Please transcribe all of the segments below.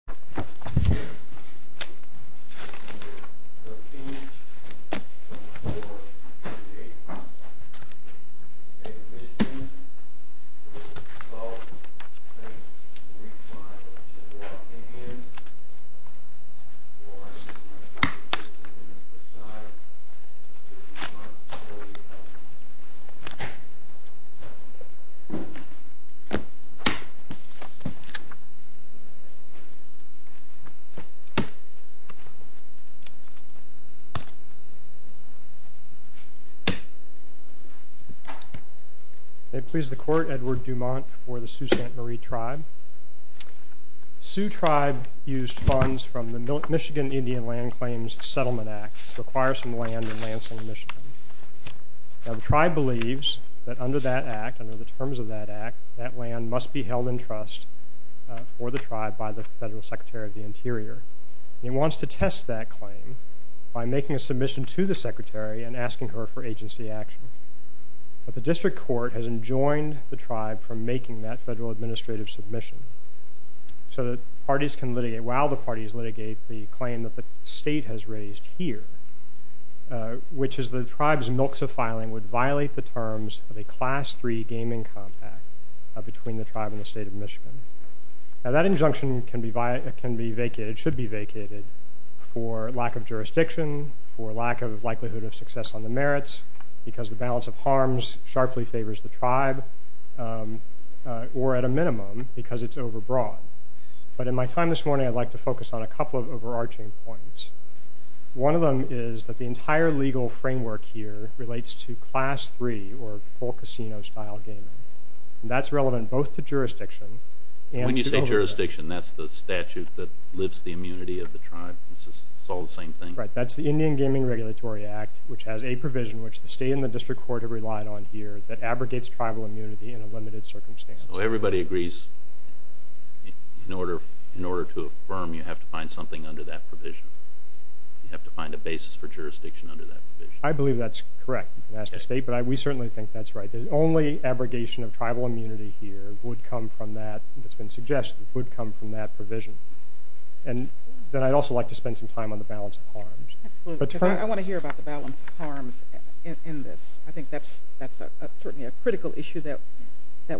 13-4-2-8 State of Michigan Sault Ste. Marie Tribe We are walking in Washington County 15 minutes per side 31-40-0 Sault Ste. Marie Tribe Edward Dumont Tribe used funds from the Michigan Indian Land Claims Settlement Act to acquire some land in Lansing, Michigan. Now the tribe believes that under that act, under the terms of that act, that land must be held in trust for the tribe by the Federal Secretary of the Interior. He wants to test that claim by making a submission to the secretary and asking her for agency action. But the district court has enjoined the tribe from making that federal administrative submission so that parties can litigate, while the parties litigate, the claim that the state has raised here, which is that the tribe's milks of filing would violate the terms of a Class III gaming compact between the tribe and the state of Michigan. Now that injunction can be vacated, should be vacated, for lack of jurisdiction, for lack of likelihood of success on the merits, because the balance of harms sharply favors the tribe, or at a minimum, because it's overbroad. But in my time this morning, I'd like to focus on a couple of overarching points. One of them is that the entire legal framework here relates to Class III, or full casino-style gaming. And that's relevant both to jurisdiction and to the tribe. When you say jurisdiction, that's the statute that lifts the immunity of the tribe? It's all the same thing? Right. That's the Indian Gaming Regulatory Act, which has a provision, which the state and the district court have relied on here, that abrogates tribal immunity in a limited circumstance. So everybody agrees in order to affirm, you have to find something under that provision? You have to find a basis for jurisdiction under that provision? I believe that's correct. You can ask the state, but we certainly think that's right. The only abrogation of tribal immunity here would come from that, that's been suggested, would come from that provision. And then I'd also like to spend some time on the balance of harms. I want to hear about the balance of harms in this. I think that's certainly a critical issue that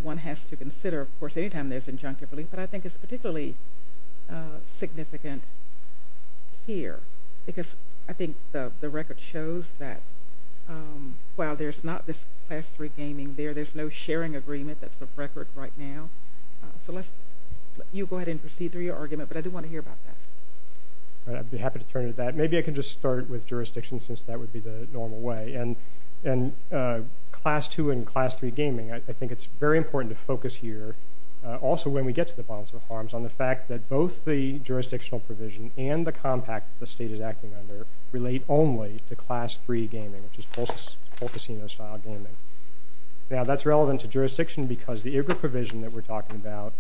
one has to consider, of course, any time there's injunctive relief, but I think it's particularly significant here. Because I think the record shows that while there's not this Class III gaming there, there's no sharing agreement, that's the record right now. So you go ahead and proceed through your argument, but I do want to hear about that. I'd be happy to turn to that. Maybe I can just start with jurisdiction since that would be the normal way. And Class II and Class III gaming, I think it's very important to focus here, also when we get to the balance of harms, on the fact that both the jurisdictional provision and the compact the state is acting under relate only to Class III gaming, which is full casino-style gaming. Now, that's relevant to jurisdiction because the IGRA provision that we're talking about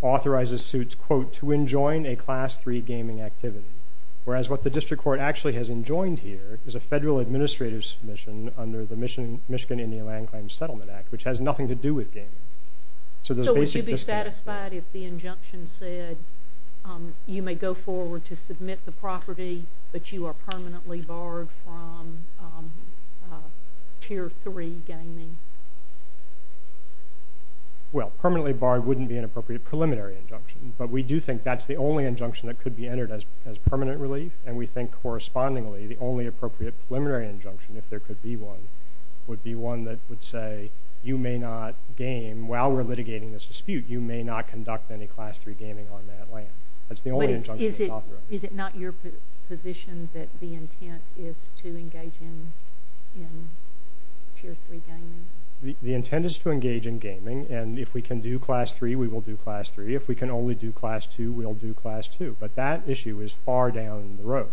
authorizes suits, quote, to enjoin a Class III gaming activity, whereas what the district court actually has enjoined here is a federal administrative submission under the Michigan Indian Land Claims Settlement Act, which has nothing to do with gaming. So would you be satisfied if the injunction said you may go forward to submit the property, but you are permanently barred from Tier III gaming? Well, permanently barred wouldn't be an appropriate preliminary injunction, but we do think that's the only injunction that could be entered as permanent relief, and we think correspondingly the only appropriate preliminary injunction, if there could be one, would be one that would say you may not game. While we're litigating this dispute, you may not conduct any Class III gaming on that land. That's the only injunction that's offered. Is it not your position that the intent is to engage in Tier III gaming? The intent is to engage in gaming, and if we can do Class III, we will do Class III. If we can only do Class II, we'll do Class II. But that issue is far down the road.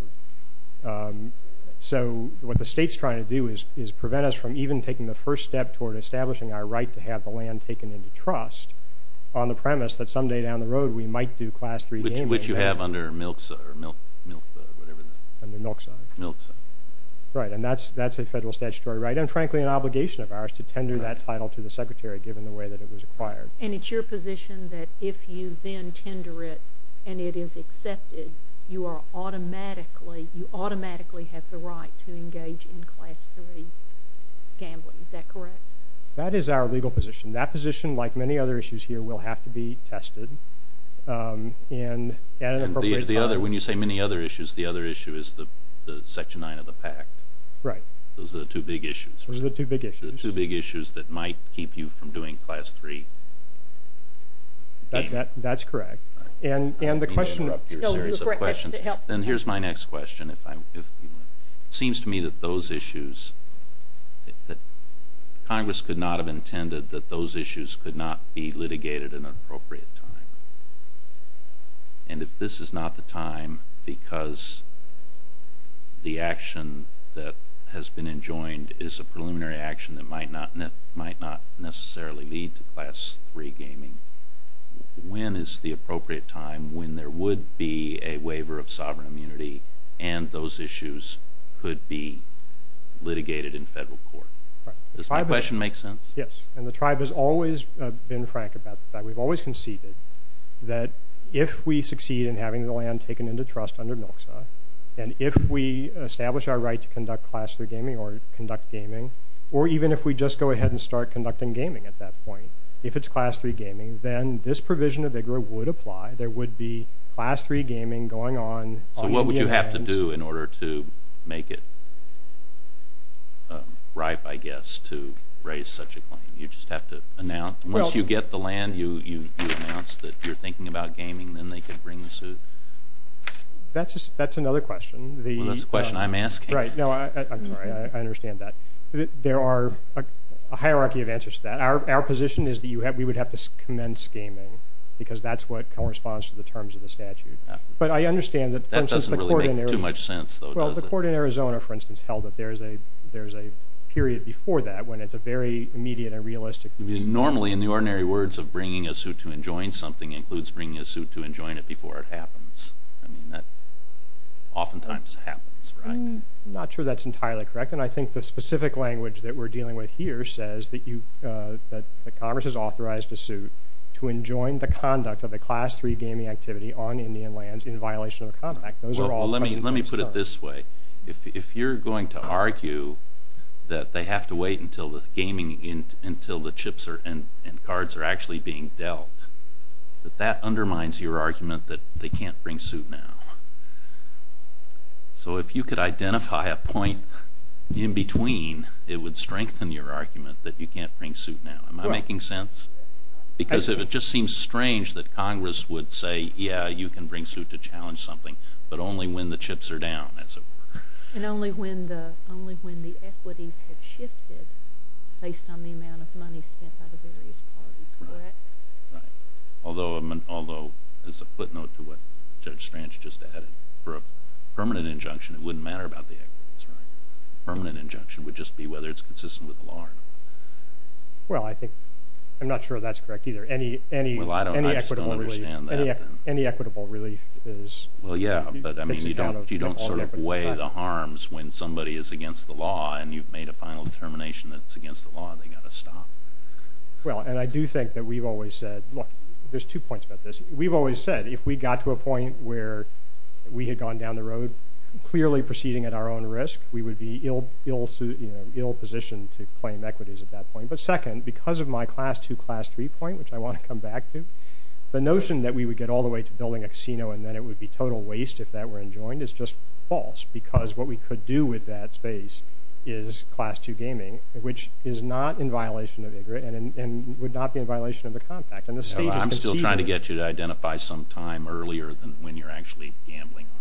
So what the state's trying to do is prevent us from even taking the first step toward establishing our right to have the land taken into trust on the premise that someday down the road we might do Class III gaming. Which you have under MILCSA or MILF or whatever that is. Under MILCSA. MILCSA. Right, and that's a federal statutory right and, frankly, an obligation of ours to tender that title to the Secretary given the way that it was acquired. And it's your position that if you then tender it and it is accepted, you automatically have the right to engage in Class III gambling. Is that correct? That is our legal position. That position, like many other issues here, will have to be tested at an appropriate time. When you say many other issues, the other issue is the Section 9 of the PACT. Right. Those are the two big issues. Those are the two big issues. Those are the two big issues that might keep you from doing Class III. That's correct. I'm going to interrupt your series of questions. Then here's my next question. It seems to me that those issues, Congress could not have intended that those issues could not be litigated at an appropriate time. And if this is not the time because the action that has been enjoined is a preliminary action that might not necessarily lead to Class III gaming, when is the appropriate time when there would be a waiver of sovereign immunity and those issues could be litigated in federal court? Does my question make sense? Yes. And the tribe has always been frank about that. We've always conceded that if we succeed in having the land taken into trust and if we establish our right to conduct Class III gaming or conduct gaming, or even if we just go ahead and start conducting gaming at that point, if it's Class III gaming, then this provision of IGRA would apply. There would be Class III gaming going on. So what would you have to do in order to make it ripe, I guess, to raise such a claim? You just have to announce? Once you get the land, you announce that you're thinking about gaming, then they could bring the suit. That's another question. Well, that's the question I'm asking. Right. No, I'm sorry. I understand that. There are a hierarchy of answers to that. Our position is that we would have to commence gaming because that's what corresponds to the terms of the statute. But I understand that, for instance, the court in Arizona, for instance, held that there's a period before that when it's a very immediate and realistic reason. Normally, in the ordinary words of bringing a suit to enjoin something includes bringing a suit to enjoin it before it happens. I mean, that oftentimes happens, right? I'm not sure that's entirely correct, and I think the specific language that we're dealing with here says that the Congress has authorized a suit to enjoin the conduct of a Class III gaming activity on Indian lands in violation of the contract. Those are all questions. Well, let me put it this way. If you're going to argue that they have to wait until the chips and cards are actually being dealt, that undermines your argument that they can't bring suit now. So if you could identify a point in between, it would strengthen your argument that you can't bring suit now. Am I making sense? Because if it just seems strange that Congress would say, yeah, you can bring suit to challenge something, but only when the chips are down, as it were. And only when the equities have shifted based on the amount of money spent by the various parties, correct? Right. Although, as a footnote to what Judge Strange just added, for a permanent injunction, it wouldn't matter about the equities, right? A permanent injunction would just be whether it's consistent with the law or not. Well, I think I'm not sure that's correct either. Any equitable relief is kind of all equities. Well, yeah, but you don't sort of weigh the harms when somebody is against the law and you've made a final determination that it's against the law and they've got to stop. Well, and I do think that we've always said, look, there's two points about this. We've always said if we got to a point where we had gone down the road clearly proceeding at our own risk, we would be ill-positioned to claim equities at that point. But second, because of my class two, class three point, the notion that we would get all the way to building a casino and then it would be total waste if that were enjoined is just false because what we could do with that space is class two gaming, which is not in violation of IGRA and would not be in violation of the Compact. I'm still trying to get you to identify some time earlier than when you're actually gambling on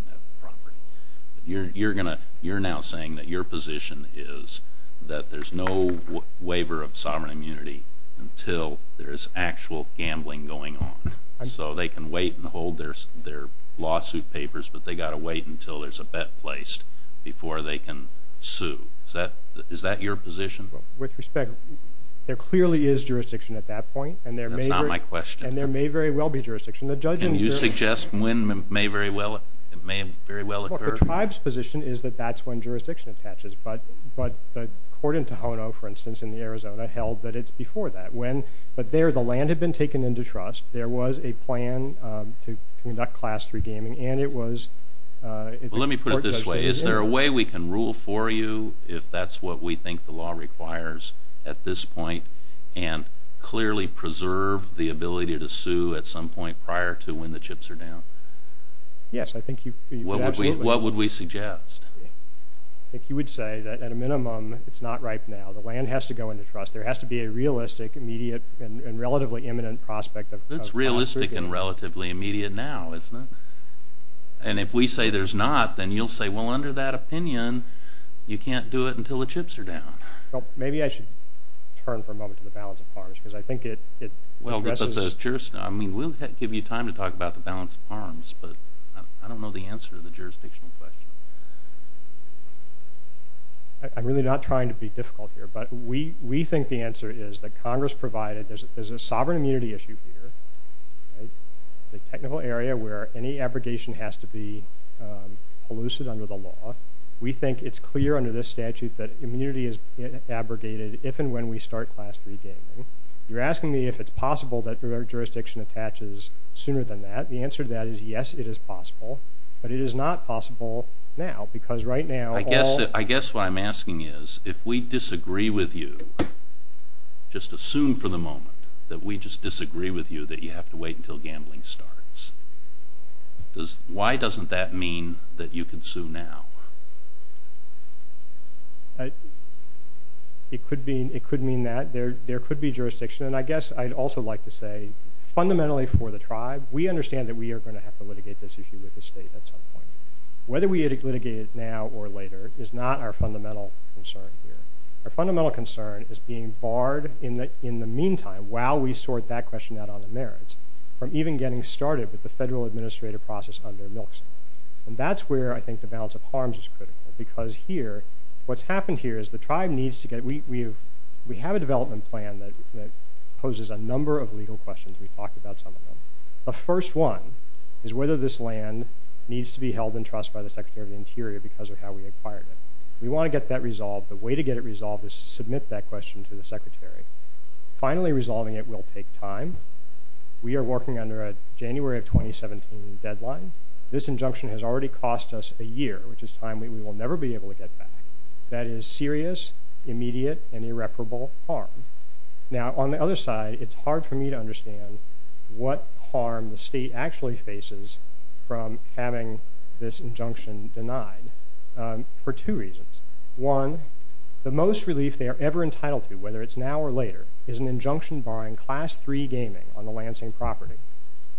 that property. You're now saying that your position is that there's no waiver of sovereign immunity until there is actual gambling going on so they can wait and hold their lawsuit papers, but they've got to wait until there's a bet placed before they can sue. Is that your position? With respect, there clearly is jurisdiction at that point. That's not my question. And there may very well be jurisdiction. And you suggest when may very well occur? The tribe's position is that that's when jurisdiction attaches. But the court in Tohono, for instance, in Arizona, held that it's before that. But there the land had been taken into trust. There was a plan to conduct class three gaming. Let me put it this way. Is there a way we can rule for you, if that's what we think the law requires at this point, and clearly preserve the ability to sue at some point prior to when the chips are down? Yes, I think you absolutely could. What would we suggest? I think you would say that at a minimum it's not ripe now. The land has to go into trust. There has to be a realistic, immediate, and relatively imminent prospect of prosecution. It's realistic and relatively immediate now, isn't it? And if we say there's not, then you'll say, well, under that opinion, you can't do it until the chips are down. Well, maybe I should turn for a moment to the balance of farms because I think it addresses... I mean, we'll give you time to talk about the balance of farms, but I don't know the answer to the jurisdictional question. I'm really not trying to be difficult here, but we think the answer is that Congress provided... There's a sovereign immunity issue here. It's a technical area where any abrogation has to be elusive under the law. We think it's clear under this statute that immunity is abrogated if and when we start Class III gaming. You're asking me if it's possible that jurisdiction attaches sooner than that. The answer to that is yes, it is possible, but it is not possible now because right now all... I disagree with you. Just assume for the moment that we just disagree with you that you have to wait until gambling starts. Why doesn't that mean that you can sue now? It could mean that. There could be jurisdiction, and I guess I'd also like to say fundamentally for the tribe, we understand that we are going to have to litigate this issue with the state at some point. Whether we litigate it now or later is not our fundamental concern here. Our fundamental concern is being barred in the meantime, while we sort that question out on the merits, from even getting started with the federal administrative process under MILCS. That's where I think the balance of harms is critical because here, what's happened here is the tribe needs to get... We have a development plan that poses a number of legal questions. We've talked about some of them. The first one is whether this land needs to be held in trust by the Secretary of the Interior because of how we acquired it. We want to get that resolved. The way to get it resolved is to submit that question to the Secretary. Finally resolving it will take time. We are working under a January of 2017 deadline. This injunction has already cost us a year, which is time we will never be able to get back. That is serious, immediate, and irreparable harm. Now, on the other side, it's hard for me to understand what harm the state actually faces from having this injunction denied for two reasons. One, the most relief they are ever entitled to, whether it's now or later, is an injunction barring Class III gaming on the Lansing property.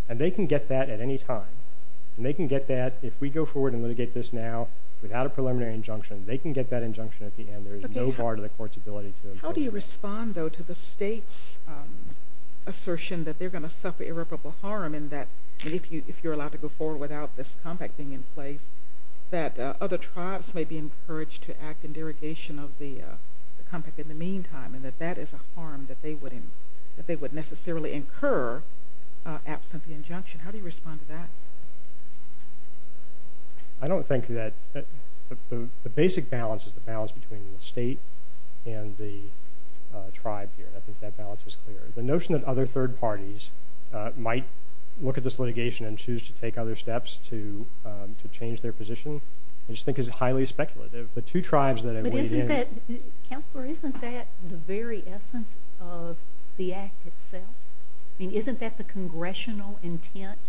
They can get that at any time. They can get that if we go forward and litigate this now without a preliminary injunction. They can get that injunction at the end. There is no bar to the court's ability to impose it. How do you respond, though, to the state's assertion that they're going to suffer irreparable harm if you're allowed to go forward without this compact thing in place and that other tribes may be encouraged to act in derogation of the compact in the meantime and that that is a harm that they would necessarily incur absent the injunction? How do you respond to that? I don't think that the basic balance is the balance between the state and the tribe here. I think that balance is clear. The notion that other third parties might look at this litigation and choose to take other steps to change their position, I just think is highly speculative. The two tribes that have weighed in. Counselor, isn't that the very essence of the act itself? I mean, isn't that the congressional intent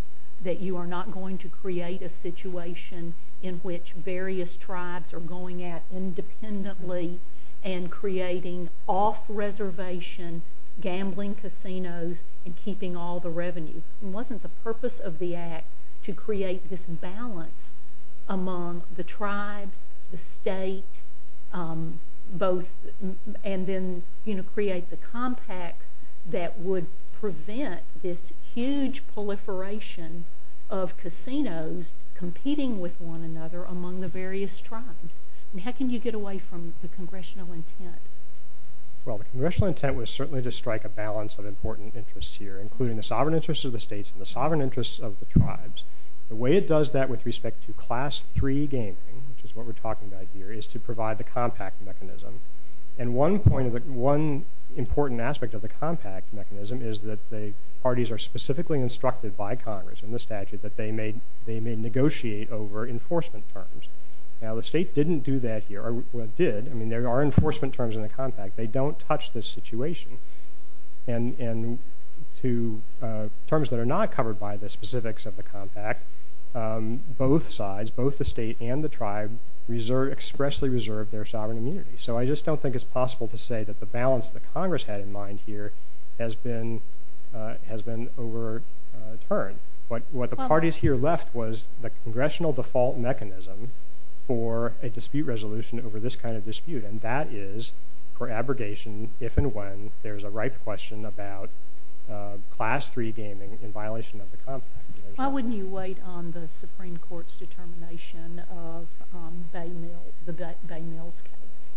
that you are not going to create a situation in which various tribes are going at independently and creating off-reservation gambling casinos and keeping all the revenue? Wasn't the purpose of the act to create this balance among the tribes, the state, and then create the compacts that would prevent this huge proliferation of casinos competing with one another among the various tribes? How can you get away from the congressional intent? Well, the congressional intent was certainly to strike a balance of important interests here, including the sovereign interests of the states and the sovereign interests of the tribes. The way it does that with respect to Class III gaming, which is what we're talking about here, is to provide the compact mechanism. And one important aspect of the compact mechanism is that the parties are specifically instructed by Congress in the statute that they may negotiate over enforcement terms. Now, the state didn't do that here. Well, it did. I mean, there are enforcement terms in the compact. They don't touch this situation. And to terms that are not covered by the specifics of the compact, both sides, both the state and the tribe, expressly reserve their sovereign immunity. So I just don't think it's possible to say that the balance that Congress had in mind here has been overturned. What the parties here left was the congressional default mechanism for a dispute resolution over this kind of dispute, and that is for abrogation if and when there's a ripe question about Class III gaming in violation of the compact. Why wouldn't you wait on the Supreme Court's determination of the Bay Mills case?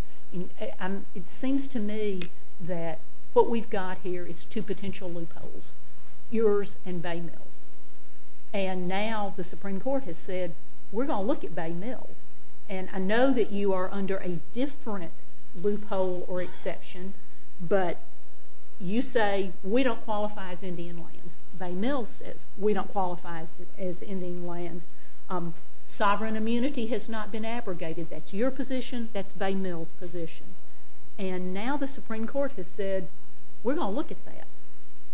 It seems to me that what we've got here is two potential loopholes, yours and Bay Mills. And now the Supreme Court has said, we're going to look at Bay Mills. And I know that you are under a different loophole or exception, but you say, we don't qualify as Indian lands. Bay Mills says, we don't qualify as Indian lands. Sovereign immunity has not been abrogated. That's your position. That's Bay Mills' position. And now the Supreme Court has said, we're going to look at that.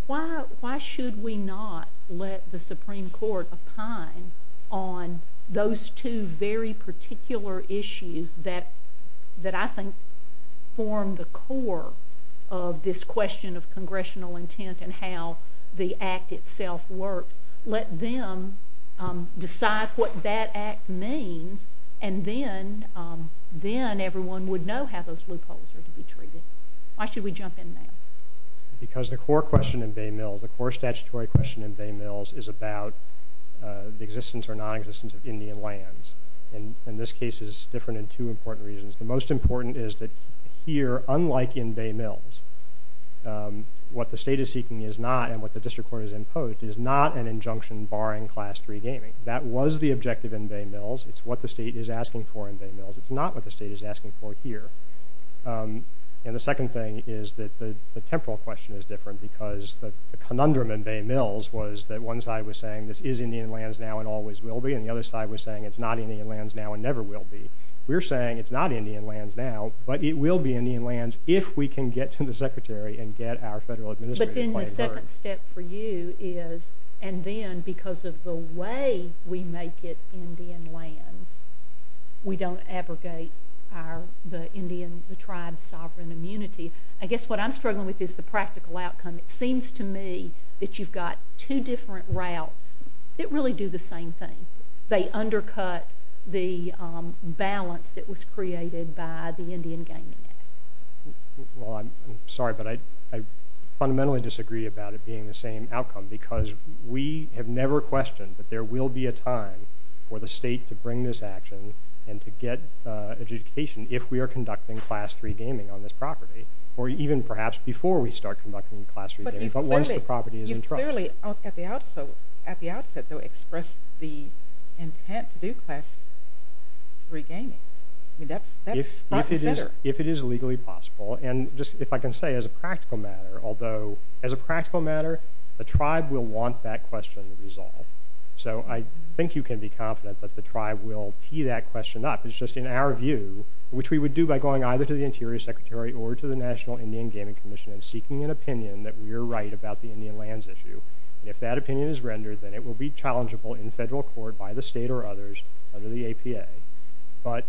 Why should we not let the Supreme Court opine on those two very particular issues that I think form the core of this question of congressional intent and how the Act itself works? Let them decide what that Act means, and then everyone would know how those loopholes are to be treated. Why should we jump in now? Because the core question in Bay Mills, the core statutory question in Bay Mills, is about the existence or non-existence of Indian lands. And this case is different in two important reasons. The most important is that here, unlike in Bay Mills, what the state is seeking is not, and what the district court has imposed, is not an injunction barring Class III gaming. That was the objective in Bay Mills. It's what the state is asking for in Bay Mills. It's not what the state is asking for here. And the second thing is that the temporal question is different because the conundrum in Bay Mills was that one side was saying this is Indian lands now and always will be, and the other side was saying it's not Indian lands now and never will be. We're saying it's not Indian lands now, but it will be Indian lands if we can get to the Secretary and get our federal administrative claim. But then the second step for you is, and then because of the way we make it Indian lands, we don't abrogate the Indian tribe's sovereign immunity. I guess what I'm struggling with is the practical outcome. It seems to me that you've got two different routes that really do the same thing. They undercut the balance that was created by the Indian Gaming Act. Well, I'm sorry, but I fundamentally disagree about it being the same outcome because we have never questioned that there will be a time for the state to bring this action and to get adjudication if we are conducting Class III gaming on this property, or even perhaps before we start conducting Class III gaming, but once the property is in trust. But you clearly at the outset, though, expressed the intent to do Class III gaming. I mean, that's five percenter. If it is legally possible, and just if I can say as a practical matter, although as a practical matter the tribe will want that question resolved. So I think you can be confident that the tribe will tee that question up. It's just in our view, which we would do by going either to the Interior Secretary or to the National Indian Gaming Commission and seeking an opinion that we are right about the Indian lands issue. If that opinion is rendered, then it will be challengeable in federal court by the state or others under the APA. But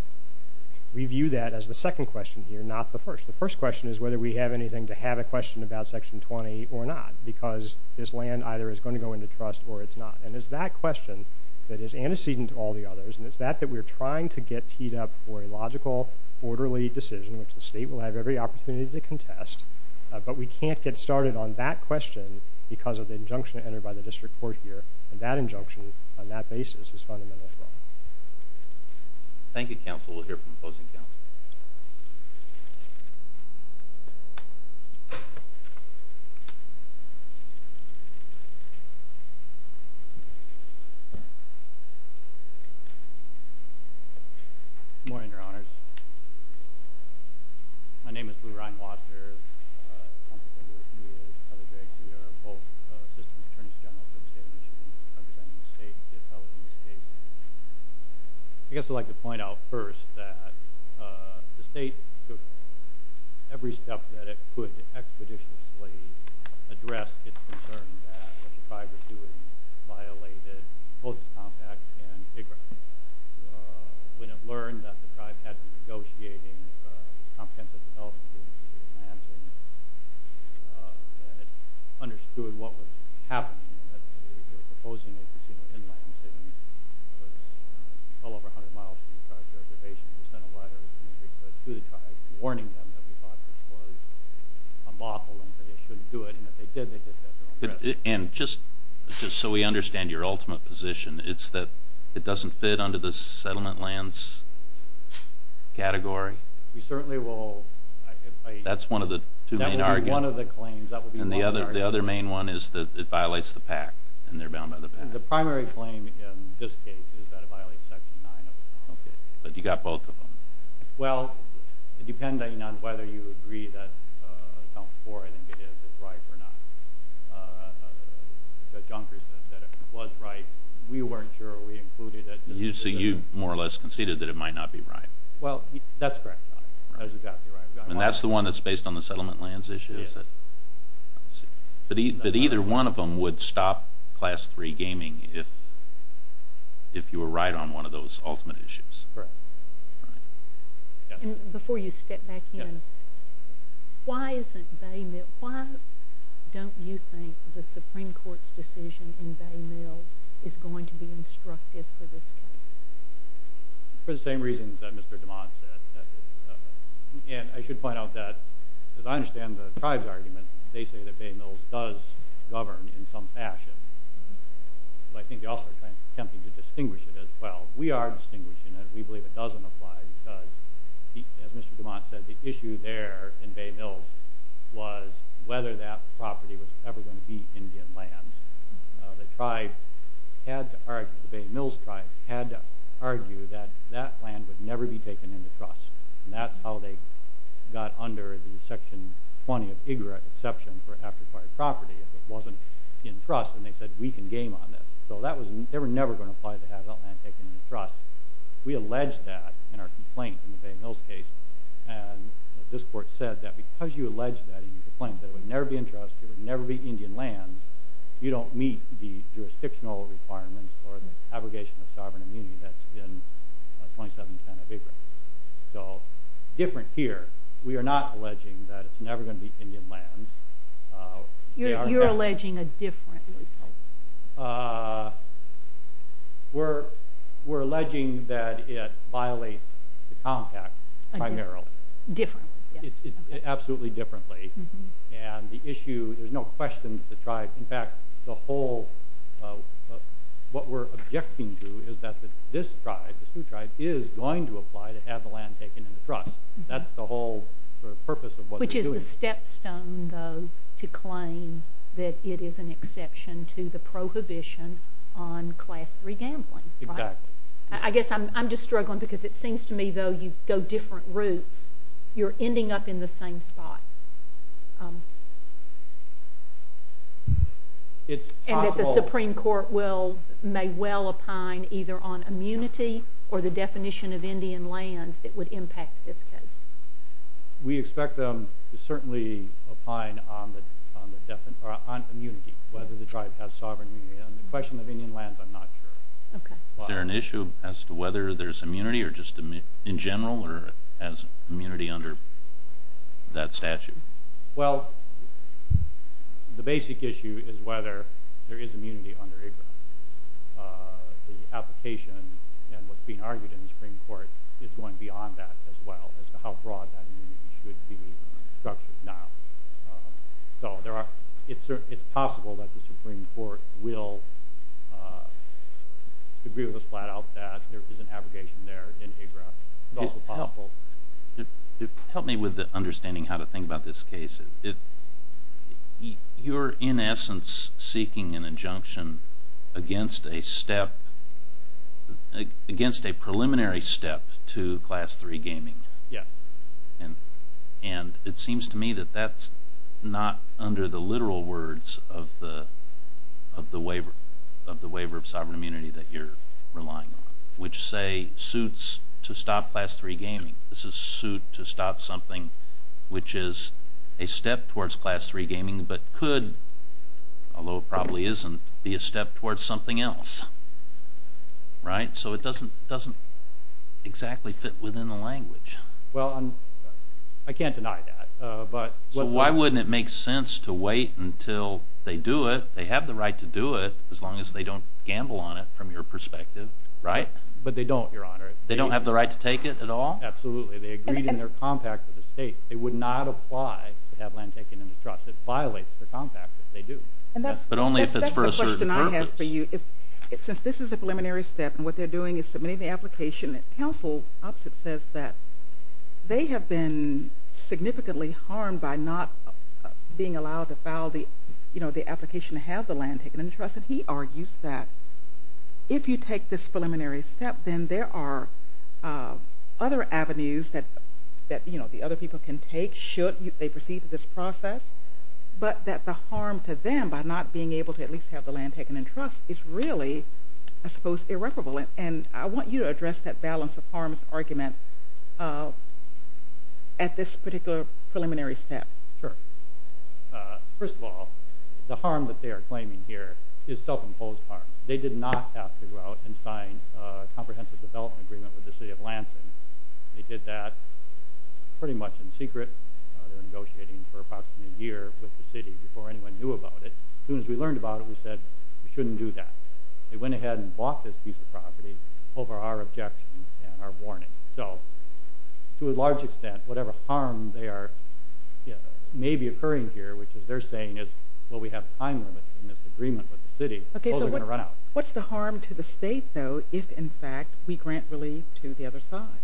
we view that as the second question here, not the first. The first question is whether we have anything to have a question about Section 20 or not because this land either is going to go into trust or it's not. And it's that question that is antecedent to all the others, and it's that that we're trying to get teed up for a logical, orderly decision, which the state will have every opportunity to contest, but we can't get started on that question because of the injunction entered by the district court here. And that injunction on that basis is fundamental. Thank you, counsel. We'll hear from opposing counsel. Good morning, Your Honors. My name is Blue Ryan Wasner. I'm here on behalf of both systems attorneys general for the state of Michigan representing the state in this case. I guess I'd like to point out first that the state took every step that it could to expeditiously address its concern that what the tribe was doing violated both its compact and pig grounds. We have learned that the tribe had been negotiating a comprehensive development agreement with Lansing, and it understood what was happening, that they were proposing a casino in Lansing that was well over 100 miles from the tribe's reservation. We sent a letter to the tribe warning them that we thought this was unlawful and that they shouldn't do it, and if they did, they did that their own way. And just so we understand your ultimate position, it's that it doesn't fit under the settlement lands category? We certainly will. That's one of the two main arguments. That would be one of the claims. And the other main one is that it violates the pact, and they're bound by the pact. The primary claim in this case is that it violates Section 9 of the law. But you got both of them. Well, depending on whether you agree that Council 4, I think it is, is right or not. John Chris said that it was right. We weren't sure. We included it. So you more or less conceded that it might not be right? Well, that's correct. That's exactly right. And that's the one that's based on the settlement lands issue? Yes. But either one of them would stop Class 3 gaming if you were right on one of those ultimate issues? Correct. Before you step back in, why isn't Bay met? Why don't you think the Supreme Court's decision in Bay Mills is going to be instructive for this case? For the same reasons that Mr. DeMont said. And I should point out that, as I understand the tribe's argument, they say that Bay Mills does govern in some fashion. I think they also are attempting to distinguish it as well. We are distinguishing it. We believe it doesn't apply because, as Mr. DeMont said, the issue there in Bay Mills was whether that property was ever going to be Indian land. The tribe had to argue, the Bay Mills tribe, had to argue that that land would never be taken into trust. And that's how they got under the Section 20 of IGRA exception for after-fire property if it wasn't in trust, and they said we can game on this. So they were never going to apply to have that land taken into trust. We alleged that in our complaint in the Bay Mills case, and this court said that because you alleged that in your complaint that it would never be in trust, it would never be Indian lands, you don't meet the jurisdictional requirements for the abrogation of sovereign immunity that's in 2710 of IGRA. So different here. We are not alleging that it's never going to be Indian lands. You're alleging a different report. We're alleging that it violates the contract primarily. Differently. Absolutely differently. And the issue, there's no question that the tribe, in fact, the whole, what we're objecting to is that this tribe, the Sioux tribe, is going to apply to have the land taken into trust. That's the whole purpose of what they're doing. Which is the stepstone, though, to claim that it is an exception to the prohibition on Class III gambling. Exactly. I guess I'm just struggling because it seems to me, though, you go different routes, you're ending up in the same spot. It's possible. And that the Supreme Court may well opine either on immunity or the definition of Indian lands that would impact this case. We expect them to certainly opine on immunity, whether the tribe has sovereign immunity. On the question of Indian lands, I'm not sure. Is there an issue as to whether there's immunity or just in general or as immunity under that statute? Well, the basic issue is whether there is immunity under ABRA. The application and what's being argued in the Supreme Court is going beyond that as well, as to how broad that immunity should be structured now. So it's possible that the Supreme Court will agree with us flat out that there is an abrogation there in ABRA. It's also possible. Help me with understanding how to think about this case. You're, in essence, seeking an injunction against a preliminary step to Class III gaming. Yes. And it seems to me that that's not under the literal words of the waiver of sovereign immunity that you're relying on, which say suits to stop Class III gaming. I think this is suit to stop something which is a step towards Class III gaming but could, although it probably isn't, be a step towards something else. Right? So it doesn't exactly fit within the language. Well, I can't deny that. So why wouldn't it make sense to wait until they do it, they have the right to do it, as long as they don't gamble on it from your perspective, right? But they don't, Your Honor. They don't have the right to take it at all? Absolutely. They agreed in their compact with the state. They would not apply to have land taken into trust. It violates the compact if they do. But only if it's for a certain purpose. That's the question I have for you. Since this is a preliminary step and what they're doing is submitting the application, the counsel opposite says that they have been significantly harmed by not being allowed to file the application to have the land taken into trust. And he argues that if you take this preliminary step, then there are other avenues that, you know, the other people can take should they proceed with this process. But that the harm to them by not being able to at least have the land taken into trust is really, I suppose, irreparable. And I want you to address that balance of harms argument at this particular preliminary step. Sure. First of all, the harm that they are claiming here is self-imposed harm. They did not have to go out and sign a comprehensive development agreement with the city of Lansing. They did that pretty much in secret. They were negotiating for approximately a year with the city before anyone knew about it. As soon as we learned about it, we said we shouldn't do that. They went ahead and bought this piece of property over our objection and our warning. So to a large extent, whatever harm may be occurring here, which is they're saying is, well, we have time limits in this agreement with the city, we're going to run out. What's the harm to the state, though, if, in fact, we grant relief to the other side?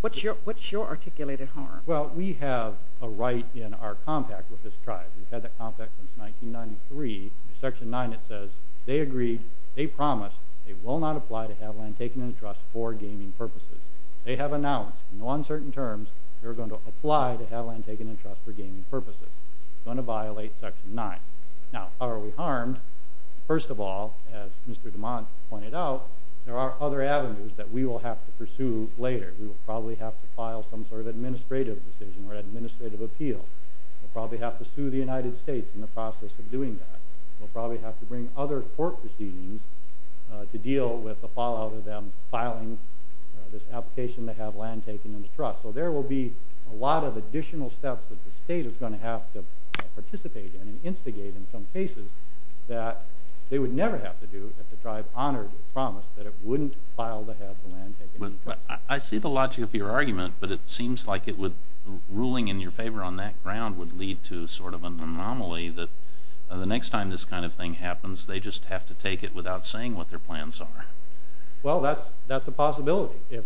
What's your articulated harm? Well, we have a right in our compact with this tribe. We've had that compact since 1993. Section 9, it says they agreed, they promised they will not apply to have land taken into trust for gaming purposes. They have announced in uncertain terms they're going to apply to have land taken into trust for gaming purposes. It's going to violate Section 9. Now, how are we harmed? First of all, as Mr. DeMond pointed out, there are other avenues that we will have to pursue later. We will probably have to file some sort of administrative decision or administrative appeal. We'll probably have to sue the United States in the process of doing that. We'll probably have to bring other court proceedings to deal with the fallout of them filing this application to have land taken into trust. So there will be a lot of additional steps that the state is going to have to participate in and instigate in some cases that they would never have to do if the tribe honored the promise that it wouldn't file to have the land taken into trust. I see the logic of your argument, but it seems like ruling in your favor on that ground would lead to sort of an anomaly that the next time this kind of thing happens they just have to take it without saying what their plans are. Well, that's a possibility. To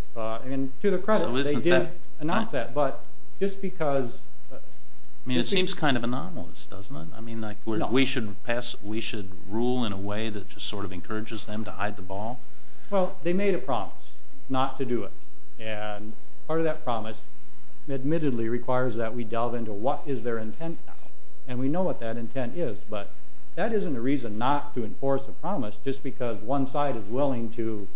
their credit, they did announce that, but just because... I mean, it seems kind of anomalous, doesn't it? I mean, we should rule in a way that just sort of encourages them to hide the ball? Well, they made a promise not to do it. And part of that promise admittedly requires that we delve into what is their intent now. And we know what that intent is, but that isn't a reason not to enforce a promise just because one side is willing to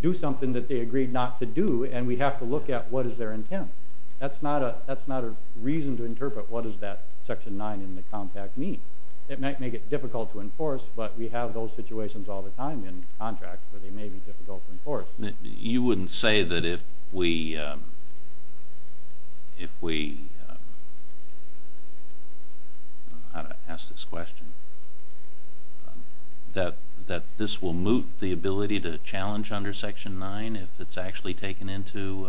do something that they agreed not to do and we have to look at what is their intent. That's not a reason to interpret what does that Section 9 in the Compact mean. It might make it difficult to enforce, but we have those situations all the time in contracts where they may be difficult to enforce. Well, you wouldn't say that if we... I don't know how to ask this question. That this will moot the ability to challenge under Section 9 if it's actually taken into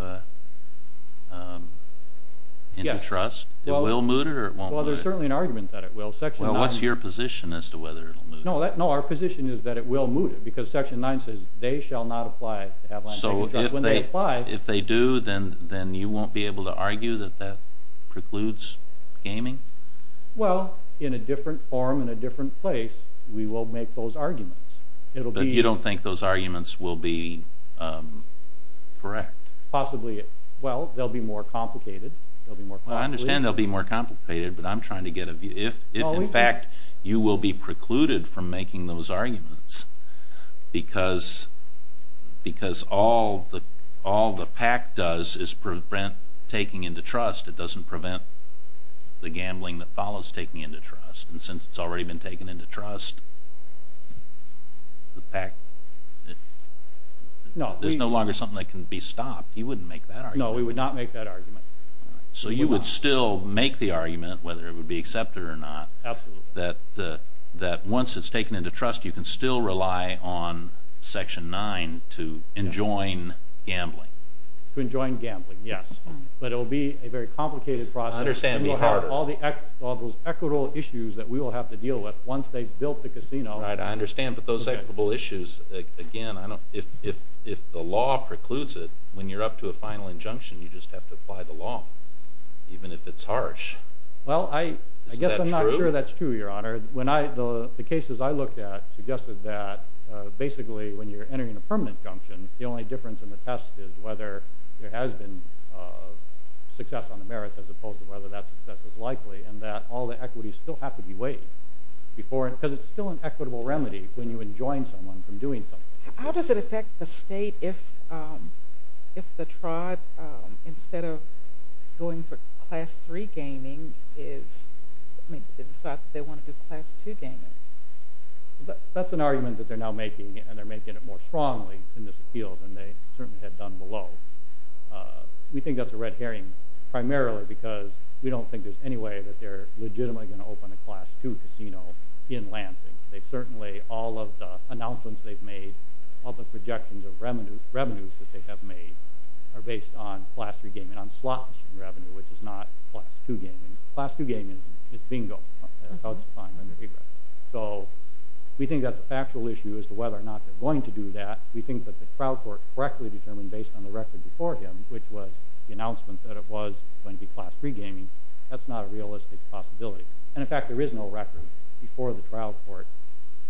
trust? It will moot it or it won't moot it? Well, there's certainly an argument that it will. What's your position as to whether it will moot it? No, our position is that it will moot it because Section 9 says they shall not apply to have land taken into trust. So if they do, then you won't be able to argue that that precludes gaming? Well, in a different forum, in a different place, we will make those arguments. But you don't think those arguments will be correct? Possibly. Well, they'll be more complicated. I understand they'll be more complicated, but I'm trying to get a view. If, in fact, you will be precluded from making those arguments because all the PAC does is prevent taking into trust, it doesn't prevent the gambling that follows taking into trust. And since it's already been taken into trust, the PAC... No, there's no longer something that can be stopped. You wouldn't make that argument? No, we would not make that argument. So you would still make the argument, whether it would be accepted or not, that once it's taken into trust, you can still rely on Section 9 to enjoin gambling? To enjoin gambling, yes. But it will be a very complicated process. I understand. And we'll have all those equitable issues that we will have to deal with once they've built the casino. I understand. But those equitable issues, again, if the law precludes it, when you're up to a final injunction, you just have to apply the law, even if it's harsh. Well, I guess I'm not sure that's true, Your Honor. The cases I looked at suggested that basically when you're entering a permanent injunction, the only difference in the test is whether there has been success on the merits as opposed to whether that success is likely, and that all the equities still have to be weighed because it's still an equitable remedy when you enjoin someone from doing something. How does it affect the state if the tribe, instead of going for Class 3 gaming, they decide that they want to do Class 2 gaming? That's an argument that they're now making, and they're making it more strongly in this appeal than they certainly had done below. We think that's a red herring primarily because we don't think there's any way that they're legitimately going to open a Class 2 casino in Lansing. Certainly, all of the announcements they've made, all the projections of revenues that they have made are based on Class 3 gaming, on slot machine revenue, which is not Class 2 gaming. Class 2 gaming is bingo. So we think that's an actual issue as to whether or not they're going to do that. We think that the trial court correctly determined based on the record before him, which was the announcement that it was going to be Class 3 gaming, that's not a realistic possibility. In fact, there is no record before the trial court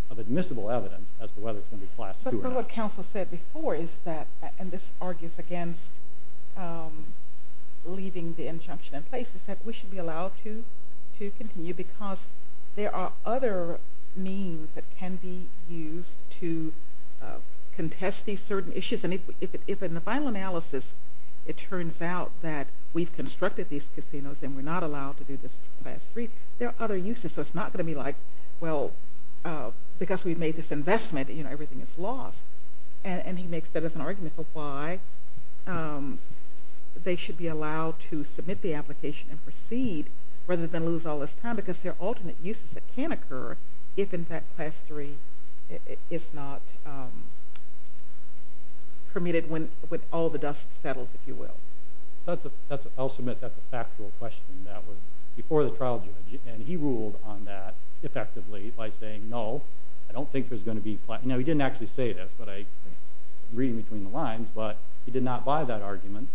of admissible evidence as to whether it's going to be Class 2 or not. But what counsel said before is that, and this argues against leaving the injunction in place, is that we should be allowed to continue because there are other means that can be used to contest these certain issues. If in the final analysis it turns out that we've constructed these casinos and we're not allowed to do this to Class 3, there are other uses. So it's not going to be like, well, because we've made this investment, everything is lost. And he makes that as an argument for why they should be allowed to submit the application and proceed rather than lose all this time because there are alternate uses that can occur if, in fact, Class 3 is not permitted when all the dust settles, if you will. I'll submit that's a factual question that was before the trial judge, and he ruled on that effectively by saying, no, I don't think there's going to be – now, he didn't actually say this, but I'm reading between the lines, but he did not buy that argument.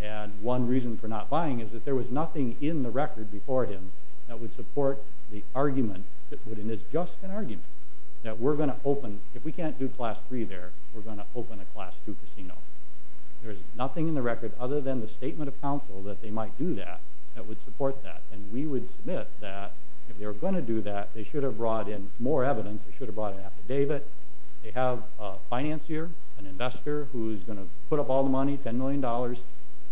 And one reason for not buying is that there was nothing in the record before him that would support the argument that it is just an argument, that we're going to open – if we can't do Class 3 there, we're going to open a Class 2 casino. There is nothing in the record other than the statement of counsel that they might do that that would support that. And we would submit that if they were going to do that, they should have brought in more evidence. They should have brought an affidavit. They have a financier, an investor, who is going to put up all the money, $10 million.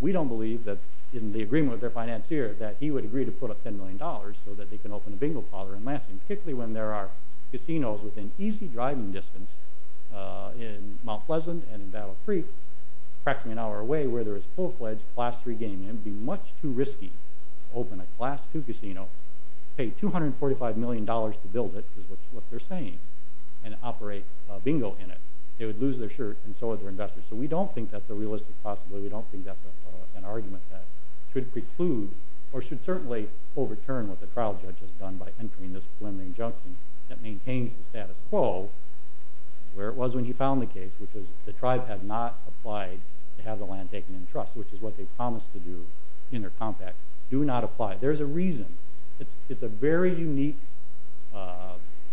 We don't believe that in the agreement with their financier that he would agree to put up $10 million so that they can open a bingo parlor in Lansing, particularly when there are casinos within easy driving distance in Mount Pleasant and in Battle Creek, practically an hour away, where there is full-fledged Class 3 gaming. It would be much too risky to open a Class 2 casino, pay $245 million to build it, is what they're saying, and operate a bingo in it. They would lose their shirt, and so would their investors. So we don't think that's a realistic possibility. We don't think that's an argument that should preclude or should certainly overturn what the trial judge has done by entering this preliminary injunction that maintains the status quo, where it was when he found the case, which was the tribe had not applied to have the land taken in trust, which is what they promised to do in their compact. Do not apply. There's a reason. It's a very unique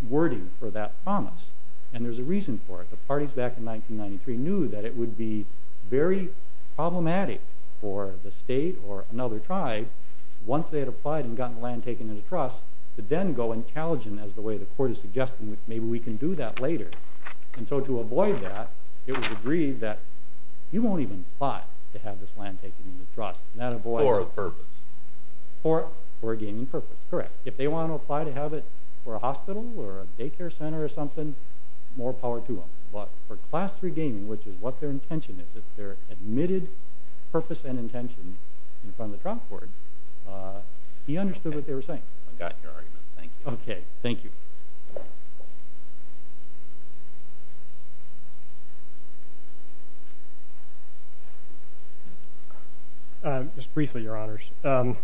wording for that promise, and there's a reason for it. The parties back in 1993 knew that it would be very problematic for the state or another tribe, once they had applied and gotten the land taken into trust, to then go and challenge them as the way the court is suggesting, which maybe we can do that later. And so to avoid that, it was agreed that you won't even apply to have this land taken into trust. For a purpose. For a gaming purpose, correct. If they want to apply to have it for a hospital or a daycare center or something, more power to them. But for Class 3 gaming, which is what their intention is, it's their admitted purpose and intention in front of the trial court, he understood what they were saying. I got your argument. Thank you. Okay. Thank you. Just briefly, Your Honors. On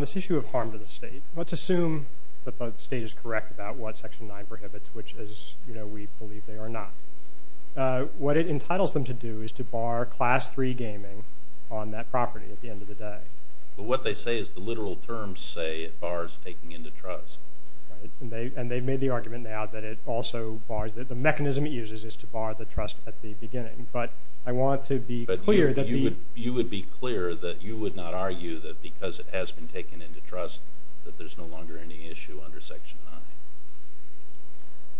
this issue of harm to the state, let's assume that the state is correct about what Section 9 prohibits, which is we believe they are not. What it entitles them to do is to bar Class 3 gaming on that property at the end of the day. But what they say is the literal terms say it bars taking into trust. And they've made the argument now that it also bars, that the mechanism it uses is to bar the trust at the beginning. But I want to be clear that the... But you would be clear that you would not argue that because it has been taken into trust that there's no longer any issue under Section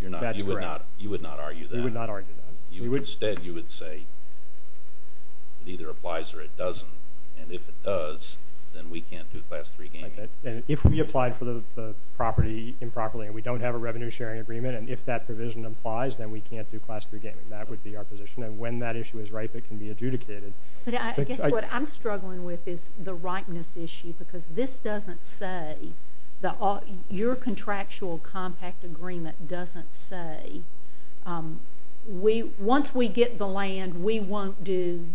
9. That's correct. You would not argue that. You would not argue that. Instead, you would say it either applies or it doesn't. And if it does, then we can't do Class 3 gaming. And if we applied for the property improperly and we don't have a revenue-sharing agreement, and if that provision applies, then we can't do Class 3 gaming. That would be our position. And when that issue is ripe, it can be adjudicated. But I guess what I'm struggling with is the ripeness issue because this doesn't say the... Once we get the land, we won't do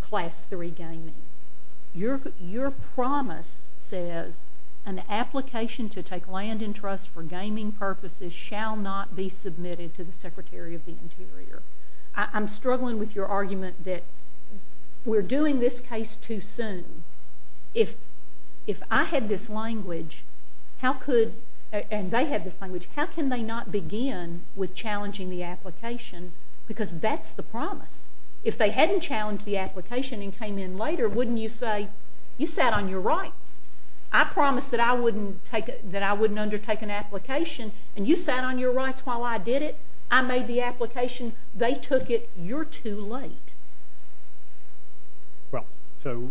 Class 3 gaming. Your promise says, an application to take land in trust for gaming purposes shall not be submitted to the Secretary of the Interior. I'm struggling with your argument that we're doing this case too soon. If I had this language, how could... with challenging the application? Because that's the promise. If they hadn't challenged the application and came in later, wouldn't you say, you sat on your rights. I promised that I wouldn't undertake an application, and you sat on your rights while I did it. I made the application. They took it. You're too late. Well, so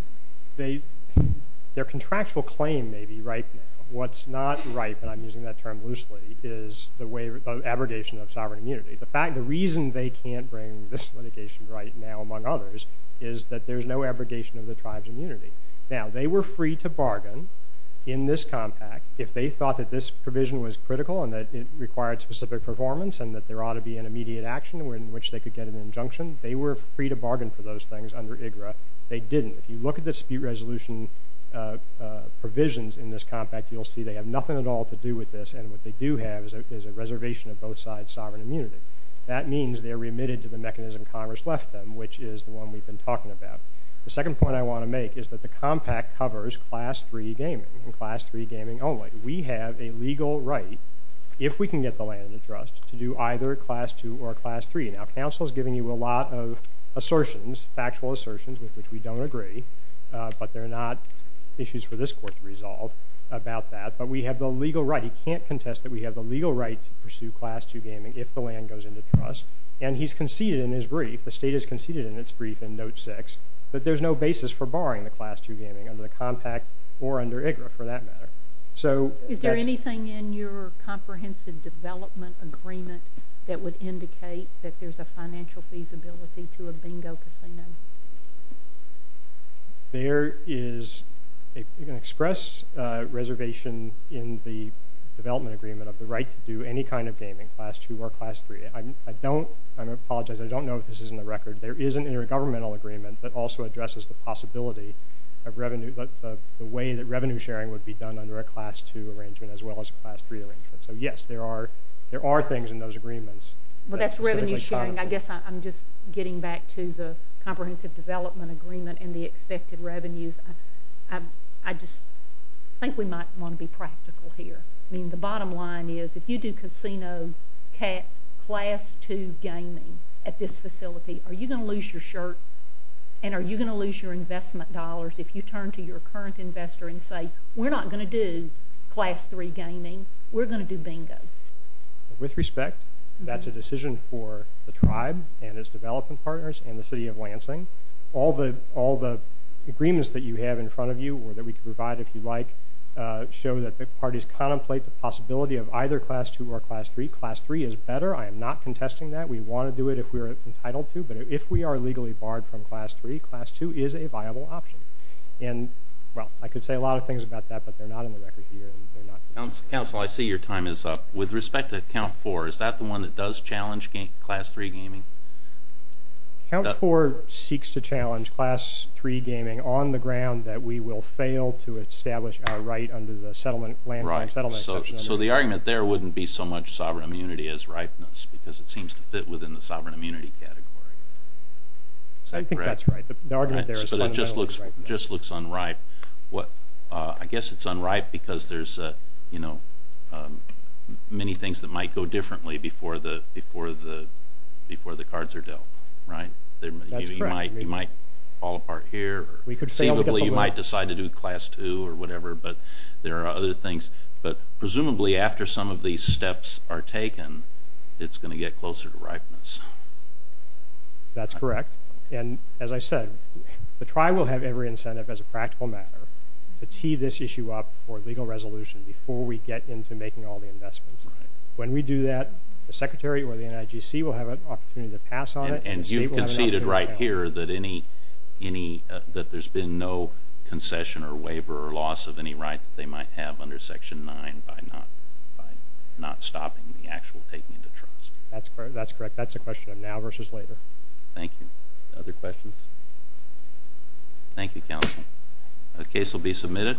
their contractual claim may be ripe now. What's not ripe, and I'm using that term loosely, is the abrogation of sovereign immunity. The reason they can't bring this litigation right now, among others, is that there's no abrogation of the tribe's immunity. Now, they were free to bargain in this compact. If they thought that this provision was critical and that it required specific performance and that there ought to be an immediate action in which they could get an injunction, they were free to bargain for those things under IGRA. They didn't. If you look at the dispute resolution provisions in this compact, you'll see they have nothing at all to do with this, and what they do have is a reservation of both sides' sovereign immunity. That means they're remitted to the mechanism Congress left them, which is the one we've been talking about. The second point I want to make is that the compact covers Class 3 gaming and Class 3 gaming only. We have a legal right, if we can get the land in the trust, to do either Class 2 or Class 3. Now, counsel is giving you a lot of assertions, factual assertions, with which we don't agree, but they're not issues for this court to resolve about that. But we have the legal right. He can't contest that we have the legal right to pursue Class 2 gaming if the land goes into trust, and he's conceded in his brief, the state has conceded in its brief in Note 6, that there's no basis for barring the Class 2 gaming under the compact or under IGRA, for that matter. Is there anything in your comprehensive development agreement that would indicate that there's a financial feasibility to a bingo casino? There is an express reservation in the development agreement of the right to do any kind of gaming, Class 2 or Class 3. I apologize, I don't know if this is in the record. There is an intergovernmental agreement that also addresses the possibility of the way that revenue sharing would be done under a Class 2 arrangement as well as a Class 3 arrangement. So, yes, there are things in those agreements. But that's revenue sharing. I guess I'm just getting back to the comprehensive development agreement and the expected revenues. I just think we might want to be practical here. I mean, the bottom line is if you do casino class 2 gaming at this facility, are you going to lose your shirt and are you going to lose your investment dollars if you turn to your current investor and say, we're not going to do Class 3 gaming, we're going to do bingo? With respect, that's a decision for the tribe and its development partners and the city of Lansing. All the agreements that you have in front of you or that we can provide if you like show that the parties contemplate the possibility of either Class 2 or Class 3. Class 3 is better. I am not contesting that. We want to do it if we're entitled to. But if we are legally barred from Class 3, Class 2 is a viable option. And, well, I could say a lot of things about that, but they're not in the record here. Council, I see your time is up. With respect to Count 4, is that the one that does challenge Class 3 gaming? Count 4 seeks to challenge Class 3 gaming on the ground that we will fail to establish our right under the land claim settlement exception. So the argument there wouldn't be so much sovereign immunity as ripeness because it seems to fit within the sovereign immunity category. I think that's right. The argument there is fundamentally right. So it just looks unripe. I guess it's unripe because there's, you know, many things that might go differently before the cards are dealt, right? That's correct. You might fall apart here. You might decide to do Class 2 or whatever, but there are other things. But presumably after some of these steps are taken, it's going to get closer to ripeness. That's correct. As I said, the tribe will have every incentive as a practical matter to tee this issue up for legal resolution before we get into making all the investments. When we do that, the Secretary or the NIGC will have an opportunity to pass on it. And you've conceded right here that there's been no concession or waiver or loss of any right that they might have under Section 9 by not stopping the actual taking into trust. That's correct. That's a question of now versus later. Thank you. Other questions? Thank you, Counsel. The case will be submitted.